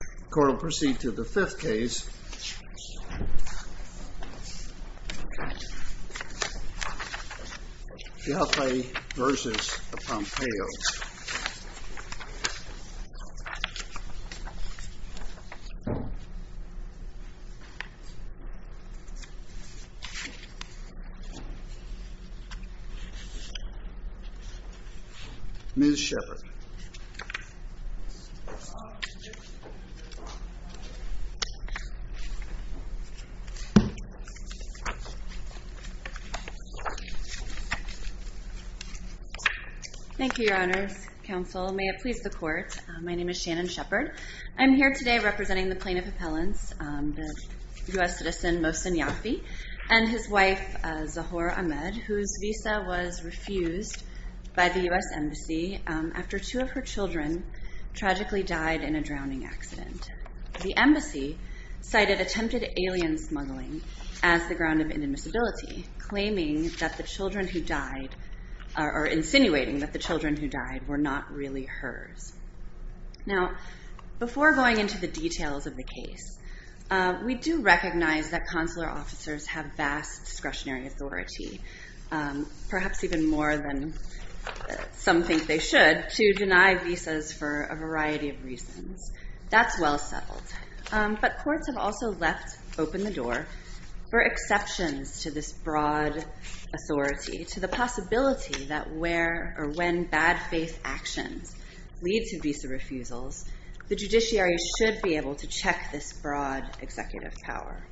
The court will proceed to the fifth case, Yafai v. Pompeo. Ms. Shepard Thank you, Your Honors, Counsel. May it please the Court, my name is Shannon Shepard. I'm here today representing the plaintiff appellants, the U.S. citizen Moshin Yafai v. Pompeo, and his wife, Zahora Ahmed, whose visa was refused by the U.S. Embassy after two of her children tragically died in a drowning accident. The Embassy cited attempted alien smuggling as the ground of inadmissibility, claiming that the children who died, or insinuating that the children who died, were not really hers. Now, before going into the details of the case, we do recognize that consular officers have vast discretionary authority, perhaps even more than some think they should, to deny visas for a variety of reasons. That's well settled. But courts have also left open the door for exceptions to this broad authority, to the to visa refusals, the judiciary should be able to check this broad executive power.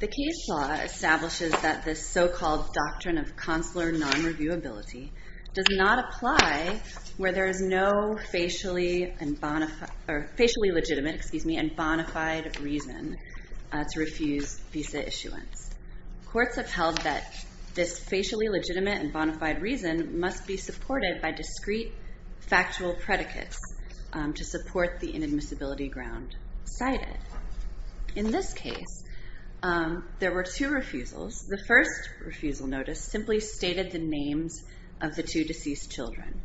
The case law establishes that this so-called doctrine of consular non-reviewability does not apply where there is no facially legitimate and bona fide reason to refuse visa issuance. Courts have held that this facially legitimate and bona fide reason must be supported by discrete factual predicates to support the inadmissibility ground cited. In this case, there were two refusals. The first refusal notice simply stated the names of the two deceased children.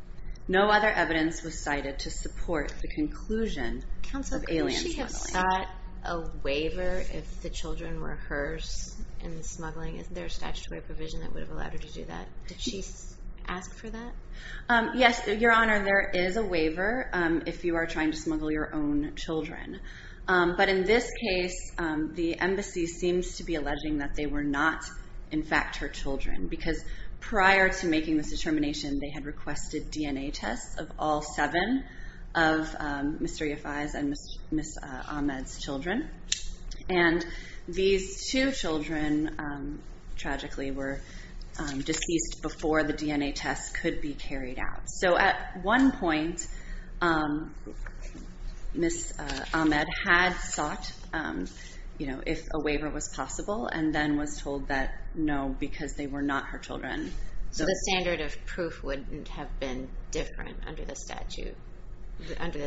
No other evidence was cited to support the conclusion of alien smuggling. Counsel, could she have sought a waiver if the children were hers in the smuggling? Isn't there a statutory provision that would have allowed her to do that? Did she ask for that? Yes, Your Honor, there is a waiver if you are trying to smuggle your own children. But in this case, the embassy seems to be alleging that they were not, in fact, her children, because prior to making this determination, they had requested DNA tests of all seven of Mr. Yafai's and Ms. Ahmed's children. And these two children, tragically, were deceased before the DNA test could be carried out. So at one point, Ms. Ahmed had sought if a waiver was possible and then was told that no, because they were not her children. So the standard of proof wouldn't have been different under the statute, under the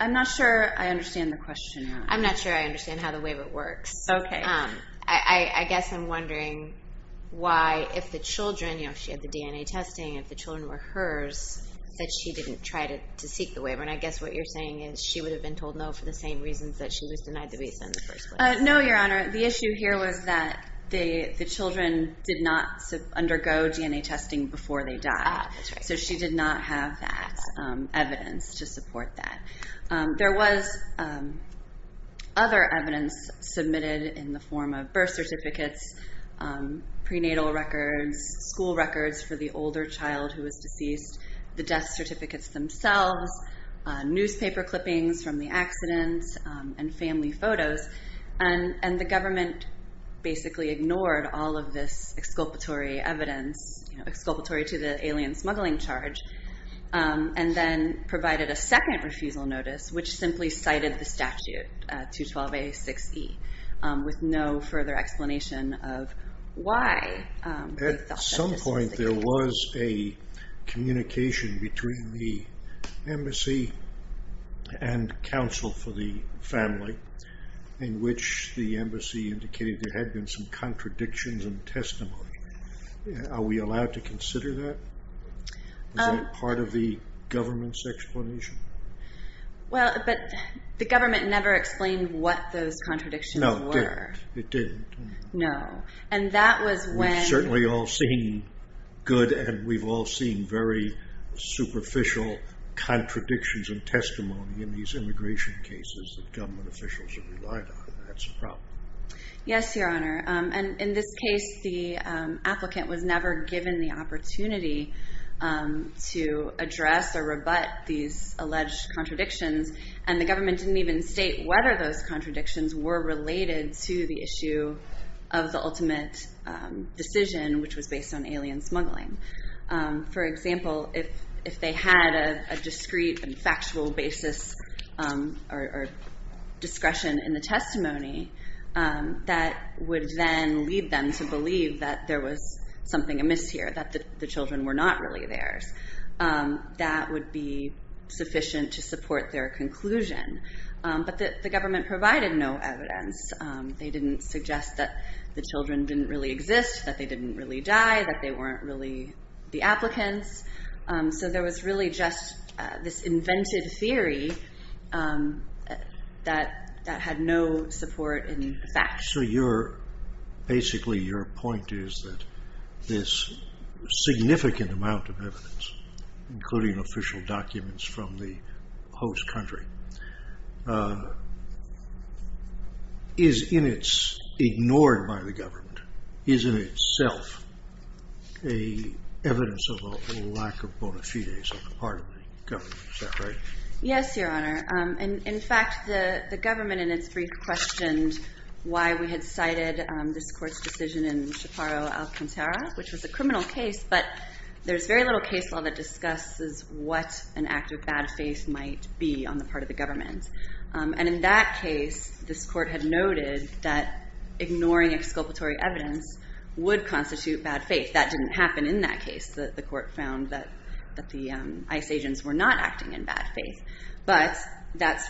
I'm not sure I understand the question, Your Honor. I'm not sure I understand how the waiver works. Okay. I guess I'm wondering why, if the children, if she had the DNA testing, if the children were hers, that she didn't try to seek the waiver. And I guess what you're saying is she would have been told no for the same reasons that she was denied the visa in the first place. No, Your Honor. The issue here was that the children did not undergo DNA testing before they died. That's right. So she did not have that evidence to support that. There was other evidence submitted in the form of birth certificates, prenatal records, school records for the older child who was deceased, the death certificates themselves, newspaper clippings from the accidents, and family photos. And the government basically ignored all of this exculpatory evidence, exculpatory to the alien smuggling charge, and then provided a second refusal notice, which simply cited the statute, 212A6E, with no further explanation of why. At some point there was a communication between the embassy and counsel for the family in which the embassy indicated there had been some contradictions in testimony. Are we allowed to consider that as part of the government's explanation? Well, but the government never explained what those contradictions were. No, it didn't. No. And that was when... We've certainly all seen good and we've all seen very superficial contradictions in testimony in these immigration cases that government officials have relied on. That's a problem. Yes, Your Honor. And in this case, the applicant was never given the opportunity to address or rebut these alleged contradictions, and the government didn't even state whether those contradictions were related to the issue of the ultimate decision, which was based on alien smuggling. For example, if they had a discrete and factual basis or discretion in the testimony, that would then lead them to believe that there was something amiss here, that the children were not really theirs. That would be sufficient to support their conclusion. But the government provided no evidence. They didn't suggest that the children didn't really exist, that they didn't really die, that they weren't really the applicants. So there was really just this invented theory that had no support in the facts. So basically your point is that this significant amount of evidence, including official documents from the host country, is in its ignored by the government, is in itself evidence of a lack of bona fides on the part of the government. Is that right? Yes, Your Honor. In fact, the government in its brief questioned why we had cited this court's decision in Shaparo al-Kantara, which was a criminal case, but there's very little case law that discusses what an act of bad faith might be on the part of the government. And in that case, this court had noted that ignoring exculpatory evidence would constitute bad faith. That didn't happen in that case. The court found that the ICE agents were not acting in bad faith. But that's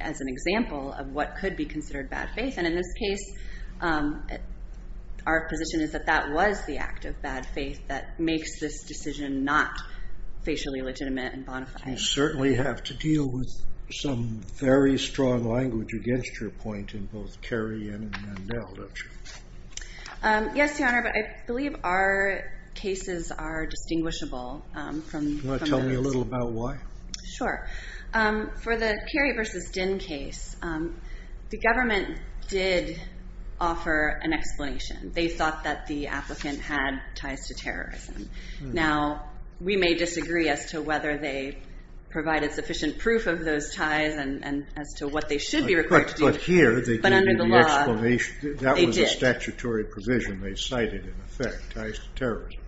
as an example of what could be considered bad faith. And in this case, our position is that that was the act of bad faith that makes this decision not facially legitimate and bona fide. You certainly have to deal with some very strong language against your point in both Kerry and Mandel, don't you? Yes, Your Honor, but I believe our cases are distinguishable. Do you want to tell me a little about why? Sure. For the Kerry v. Dinh case, the government did offer an explanation. They thought that the applicant had ties to terrorism. Now, we may disagree as to whether they provided sufficient proof of those ties and as to what they should be required to do. But here they gave you the explanation. That was a statutory provision they cited in effect, ties to terrorism.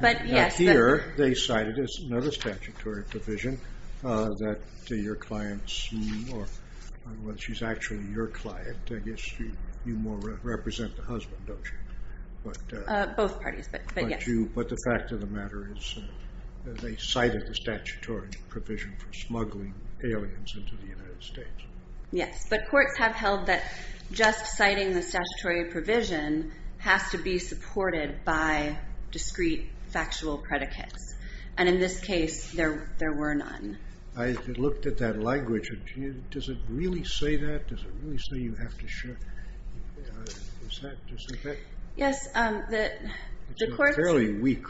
But here they cited another statutory provision that your clients, or whether she's actually your client. I guess you more represent the husband, don't you? Both parties, but yes. But the fact of the matter is they cited the statutory provision for smuggling aliens into the United States. Yes, but courts have held that just citing the statutory provision has to be supported by discrete factual predicates. And in this case, there were none. I looked at that language. Does it really say that? Does it really say you have to show? Is that just in effect? It's a fairly weak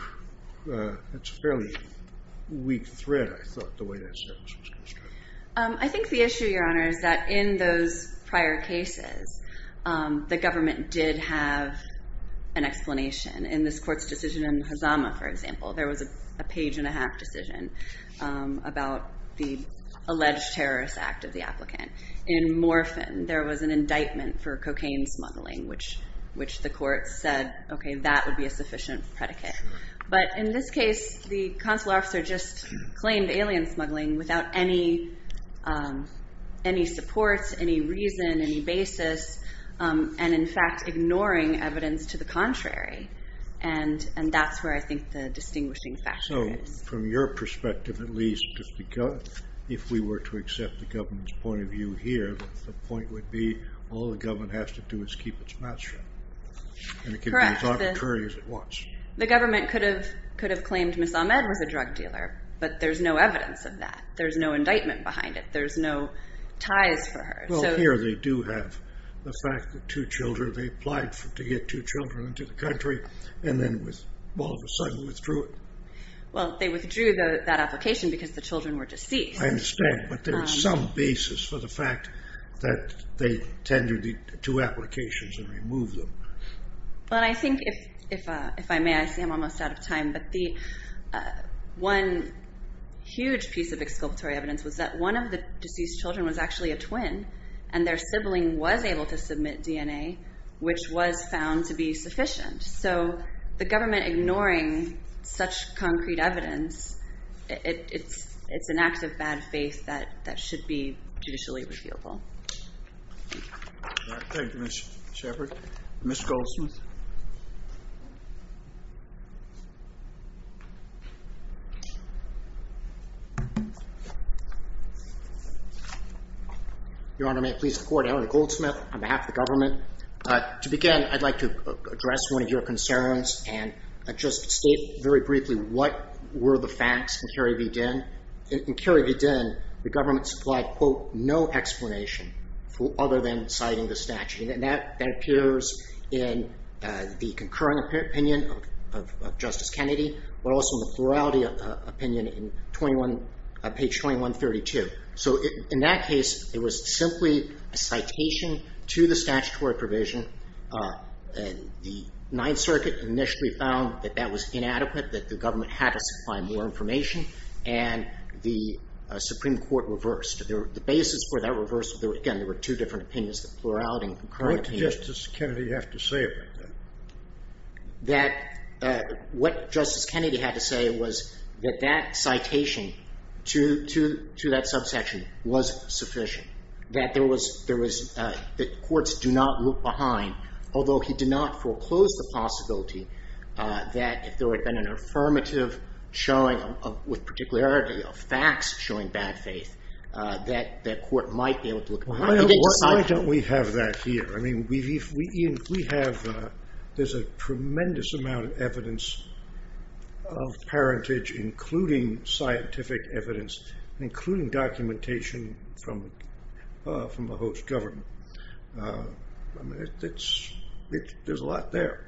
thread, I thought, the way that was constructed. I think the issue, Your Honor, is that in those prior cases, the government did have an explanation. In this court's decision in Hazama, for example, there was a page and a half decision about the alleged terrorist act of the applicant. In Morphin, there was an indictment for cocaine smuggling, which the court said, okay, that would be a sufficient predicate. But in this case, the consular officer just claimed alien smuggling without any support, any reason, any basis, and in fact ignoring evidence to the contrary. And that's where I think the distinguishing factor is. So from your perspective, at least, if we were to accept the government's point of view here, the point would be all the government has to do is keep its mouth shut. Correct. And it can be as arbitrary as it wants. The government could have claimed Ms. Ahmed was a drug dealer, but there's no evidence of that. There's no indictment behind it. There's no ties for her. Well, here they do have the fact that two children, they applied to get two children into the country, and then all of a sudden withdrew it. Well, they withdrew that application because the children were deceased. I understand, but there's some basis for the fact that they tendered the two applications and removed them. Well, I think if I may, I see I'm almost out of time, but one huge piece of exculpatory evidence was that one of the deceased children was actually a twin, and their sibling was able to submit DNA, which was found to be sufficient. So the government ignoring such concrete evidence, it's an act of bad faith that should be judicially repealable. Thank you, Ms. Shepard. Mr. Goldsmith. Your Honor, may I please report? Henry Goldsmith on behalf of the government. To begin, I'd like to address one of your concerns and just state very briefly what were the facts in Kerry v. Dinn. In Kerry v. Dinn, the government supplied, quote, no explanation other than citing the statute, and that appears in the concurring opinion of Justice Kennedy, but also in the plurality opinion in page 2132. So in that case, it was simply a citation to the statutory provision and the Ninth Circuit initially found that that was inadequate, that the government had to supply more information, and the Supreme Court reversed. The basis for that reverse, again, there were two different opinions, the plurality and the concurring opinion. What did Justice Kennedy have to say about that? That what Justice Kennedy had to say was that that citation to that subsection was sufficient, that courts do not look behind, although he did not foreclose the possibility that if there had been an affirmative showing, with particularity of facts showing bad faith, that that court might be able to look behind. Why don't we have that here? I mean, we have, there's a tremendous amount of evidence of parentage, including scientific evidence, including documentation from the host government. I mean, there's a lot there.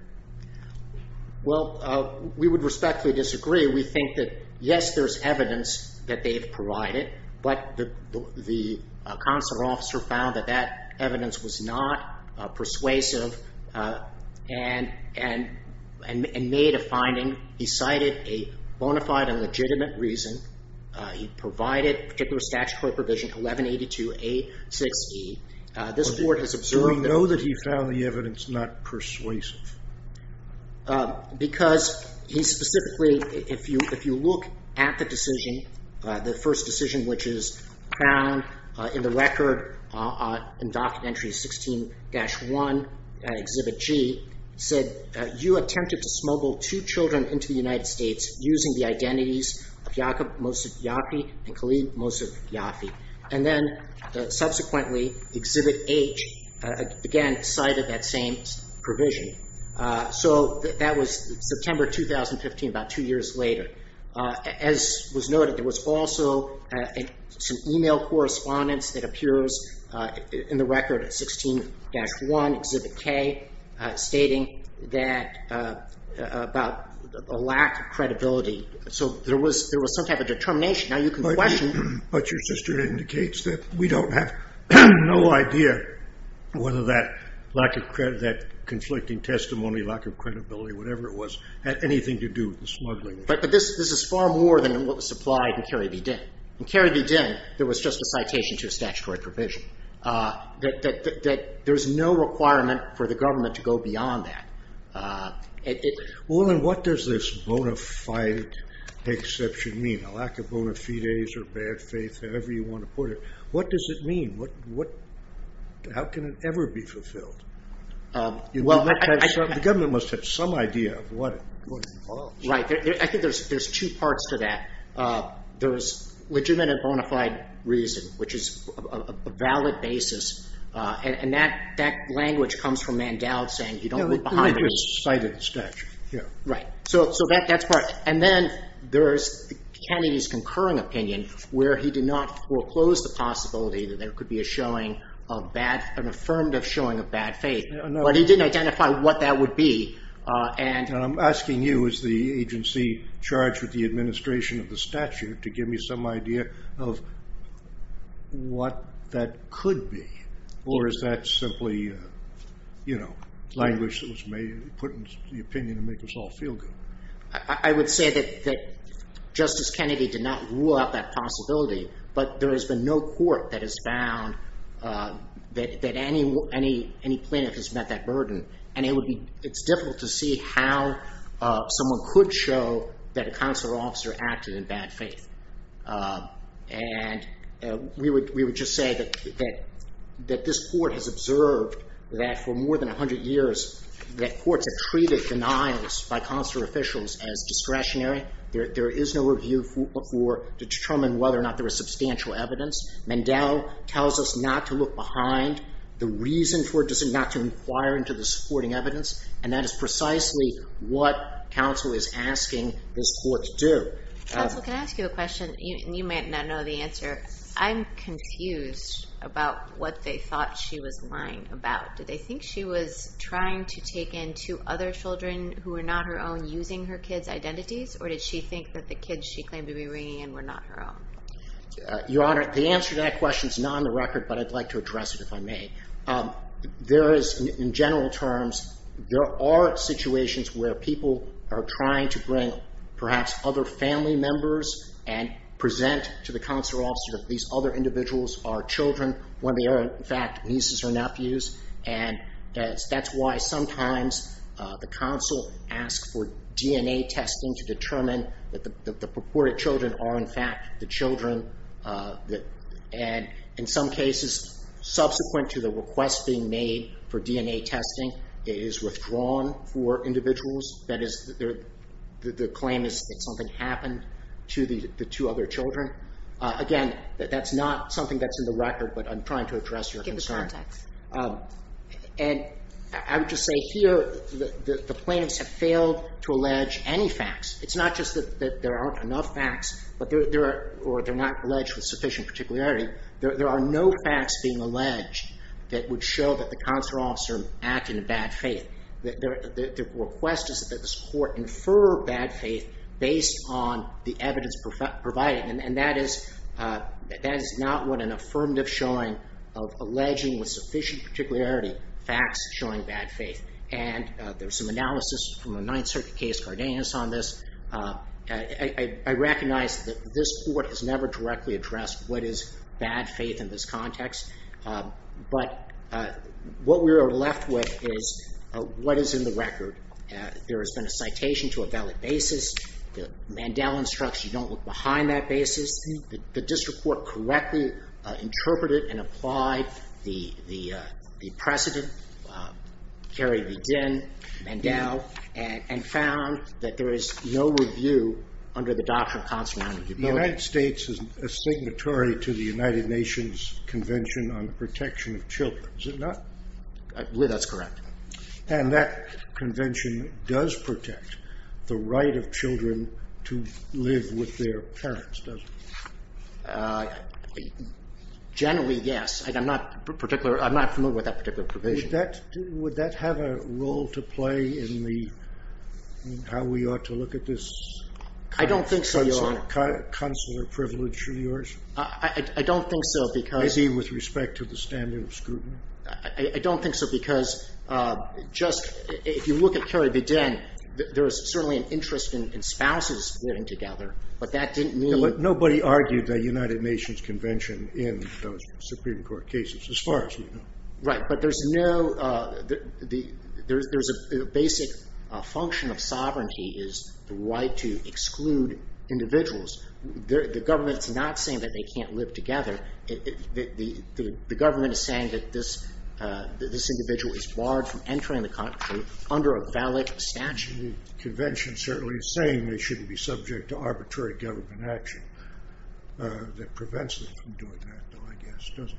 Well, we would respectfully disagree. We think that, yes, there's evidence that they've provided, but the consular officer found that that evidence was not persuasive and made a finding. He cited a bona fide and legitimate reason. He provided particular statutory provision 1182A6E. This Court has observed that. Do we know that he found the evidence not persuasive? Because he specifically, if you look at the decision, the first decision which is found in the record, in Docket Entry 16-1, Exhibit G, said, you attempted to smuggle two children into the United States using the identities of Jacob Mosef Yafi and Khalid Mosef Yafi. And then, subsequently, Exhibit H, again, cited that same provision. So that was September 2015, about two years later. As was noted, there was also some e-mail correspondence that appears in the record at 16-1, Exhibit K, stating that about a lack of credibility. So there was some type of determination. Now, you can question it. But your sister indicates that we don't have no idea whether that lack of credibility, that conflicting testimony, lack of credibility, whatever it was, had anything to do with the smuggling. In Kerry v. Dinn, there was just a citation to a statutory provision. There's no requirement for the government to go beyond that. Well, then, what does this bona fide exception mean? A lack of bona fides or bad faith, however you want to put it. What does it mean? How can it ever be fulfilled? The government must have some idea of what it involves. Right. I think there's two parts to that. There's legitimate and bona fide reason, which is a valid basis. And that language comes from Mandel saying, you don't go behind the rules. It was cited in the statute. Right. So that's part. And then there's Kennedy's concurring opinion, where he did not foreclose the possibility that there could be a showing of bad, an affirmative showing of bad faith. But he didn't identify what that would be. I'm asking you, as the agency charged with the administration of the statute, to give me some idea of what that could be. Or is that simply language that was put in the opinion to make us all feel good? I would say that Justice Kennedy did not rule out that possibility. But there has been no court that has found that any plaintiff has met that burden. And it's difficult to see how someone could show that a consular officer acted in bad faith. And we would just say that this court has observed that for more than 100 years, that courts have treated denials by consular officials as discretionary. There is no review to determine whether or not there is substantial evidence. Mandel tells us not to look behind. The reason for it is not to inquire into the supporting evidence. And that is precisely what counsel is asking this court to do. Counsel, can I ask you a question? You may not know the answer. I'm confused about what they thought she was lying about. Did they think she was trying to take in two other children who were not her own, using her kids' identities? Or did she think that the kids she claimed to be bringing in were not her own? Your Honor, the answer to that question is not on the record. But I'd like to address it if I may. In general terms, there are situations where people are trying to bring perhaps other family members and present to the consular officer that these other individuals are children, when they are in fact nieces or nephews. And that's why sometimes the counsel asks for DNA testing to determine that the purported children are in fact the children. And in some cases, subsequent to the request being made for DNA testing, it is withdrawn for individuals. That is, the claim is that something happened to the two other children. Again, that's not something that's in the record, but I'm trying to address your concern. Give us context. And I would just say here that the plaintiffs have failed to allege any facts. It's not just that there aren't enough facts or they're not alleged with sufficient particularity. There are no facts being alleged that would show that the consular officer acted in bad faith. The request is that this Court infer bad faith based on the evidence provided. And that is not what an affirmative showing of alleging with sufficient particularity facts showing bad faith. And there's some analysis from a Ninth Circuit case, Cardenas, on this. I recognize that this Court has never directly addressed what is bad faith in this context. But what we are left with is what is in the record. There has been a citation to a valid basis. The Mandel instructs you don't look behind that basis. The district court correctly interpreted and applied the precedent, Kerry v. Dinn, Mandel, and found that there is no review under the doctrine of consularity. The United States is a signatory to the United Nations Convention on the Protection of Children. Is it not? I believe that's correct. And that convention does protect the right of children to live with their parents, doesn't it? Generally, yes. I'm not familiar with that particular provision. Would that have a role to play in how we ought to look at this consular privilege of yours? I don't think so. Maybe with respect to the standard of scrutiny. I don't think so because just if you look at Kerry v. Dinn, there is certainly an interest in spouses living together, but that didn't mean – But nobody argued the United Nations Convention in those Supreme Court cases as far as you know. Right, but there's no – there's a basic function of sovereignty is the right to exclude individuals. The government is not saying that they can't live together. The government is saying that this individual is barred from entering the country under a valid statute. The convention certainly is saying they shouldn't be subject to arbitrary government action. That prevents them from doing that, though, I guess, doesn't it?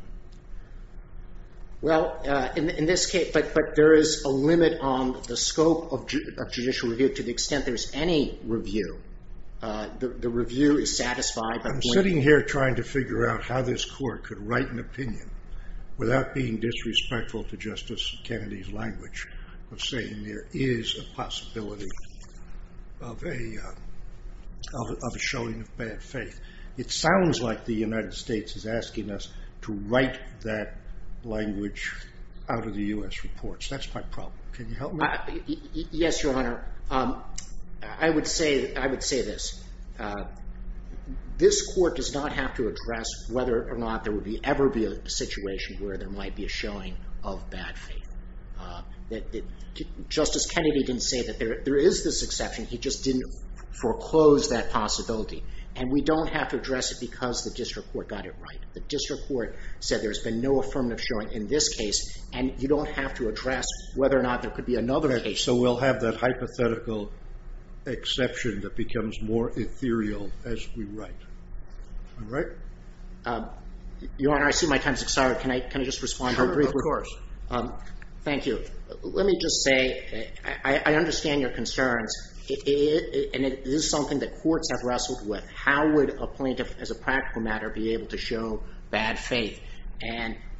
Well, in this case – but there is a limit on the scope of judicial review to the extent there is any review. The review is satisfied by the way – I'm sitting here trying to figure out how this court could write an opinion without being disrespectful to Justice Kennedy's language of saying there is a possibility of a showing of bad faith. It sounds like the United States is asking us to write that language out of the U.S. reports. That's my problem. Can you help me? Yes, Your Honor. I would say this. This court does not have to address whether or not there would ever be a situation where there might be a showing of bad faith. Justice Kennedy didn't say that there is this exception. He just didn't foreclose that possibility, and we don't have to address it because the district court got it right. The district court said there's been no affirmative showing in this case, and you don't have to address whether or not there could be another case. So we'll have that hypothetical exception that becomes more ethereal as we write. All right? Your Honor, I see my time has expired. Can I just respond briefly? Sure, of course. Thank you. Let me just say I understand your concerns, and it is something that courts have wrestled with. How would a plaintiff, as a practical matter, be able to show bad faith?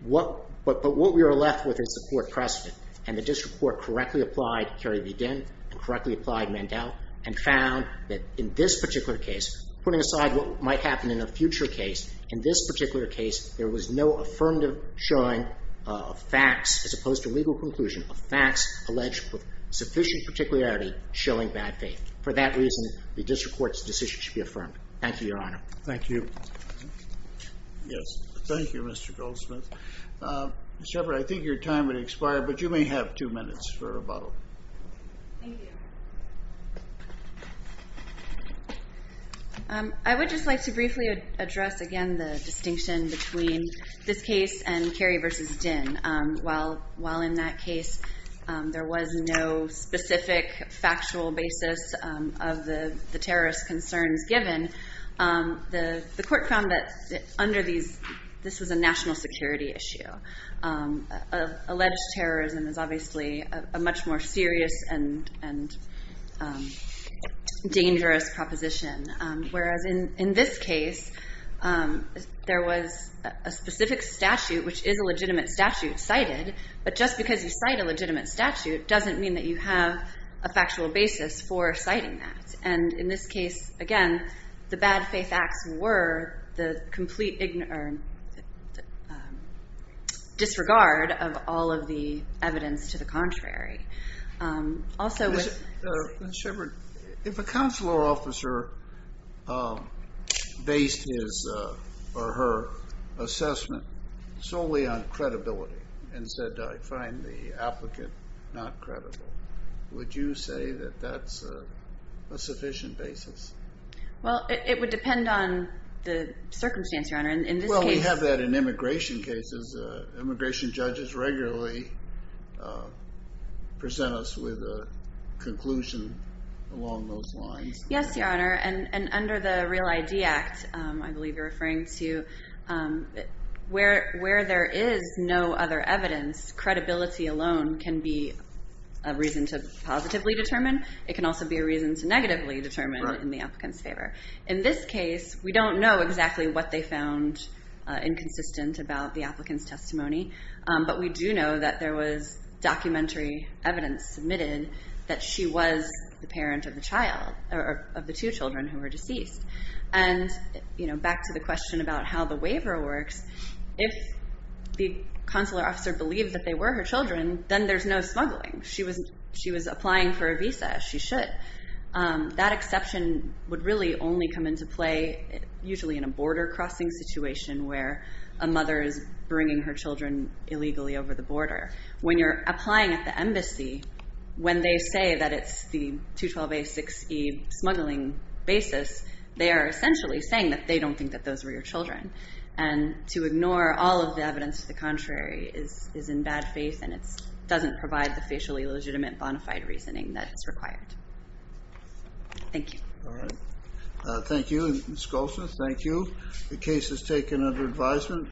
But what we are left with is the court precedent, and the district court correctly applied Kerry v. Ginn and correctly applied Mandel and found that in this particular case, putting aside what might happen in a future case, in this particular case, there was no affirmative showing of facts as opposed to legal conclusion of facts alleged with sufficient particularity showing bad faith. For that reason, the district court's decision should be affirmed. Thank you, Your Honor. Thank you. Yes. Thank you, Mr. Goldsmith. Ms. Shepherd, I think your time has expired, but you may have two minutes for rebuttal. Thank you. I would just like to briefly address again the distinction between this case and Kerry v. Ginn. While in that case there was no specific factual basis of the terrorist concerns given, the court found that under these, this was a national security issue. Alleged terrorism is obviously a much more serious and dangerous proposition, whereas in this case there was a specific statute, which is a legitimate statute cited, but just because you cite a legitimate statute doesn't mean that you have a factual basis for citing that. And in this case, again, the bad faith acts were the complete disregard of all of the evidence to the contrary. Also with- Ms. Shepherd, if a counselor officer based his or her assessment solely on credibility and said, I find the applicant not credible, would you say that that's a sufficient basis? Well, it would depend on the circumstance, Your Honor. In this case- Well, we have that in immigration cases. Immigration judges regularly present us with a conclusion along those lines. Yes, Your Honor, and under the Real ID Act, I believe you're referring to where there is no other evidence, credibility alone can be a reason to positively determine. It can also be a reason to negatively determine in the applicant's favor. In this case, we don't know exactly what they found inconsistent about the applicant's testimony, but we do know that there was documentary evidence submitted that she was the parent of the two children who were deceased. And back to the question about how the waiver works, if the counselor officer believed that they were her children, then there's no smuggling. She was applying for a visa, as she should. That exception would really only come into play usually in a border crossing situation where a mother is bringing her children illegally over the border. When you're applying at the embassy, when they say that it's the 212A6E smuggling basis, they are essentially saying that they don't think that those were your children. And to ignore all of the evidence to the contrary is in bad faith, and it doesn't provide the facially legitimate bona fide reasoning that is required. Thank you. All right. Thank you. Ms. Goldsmith, thank you. The case is taken under advisement.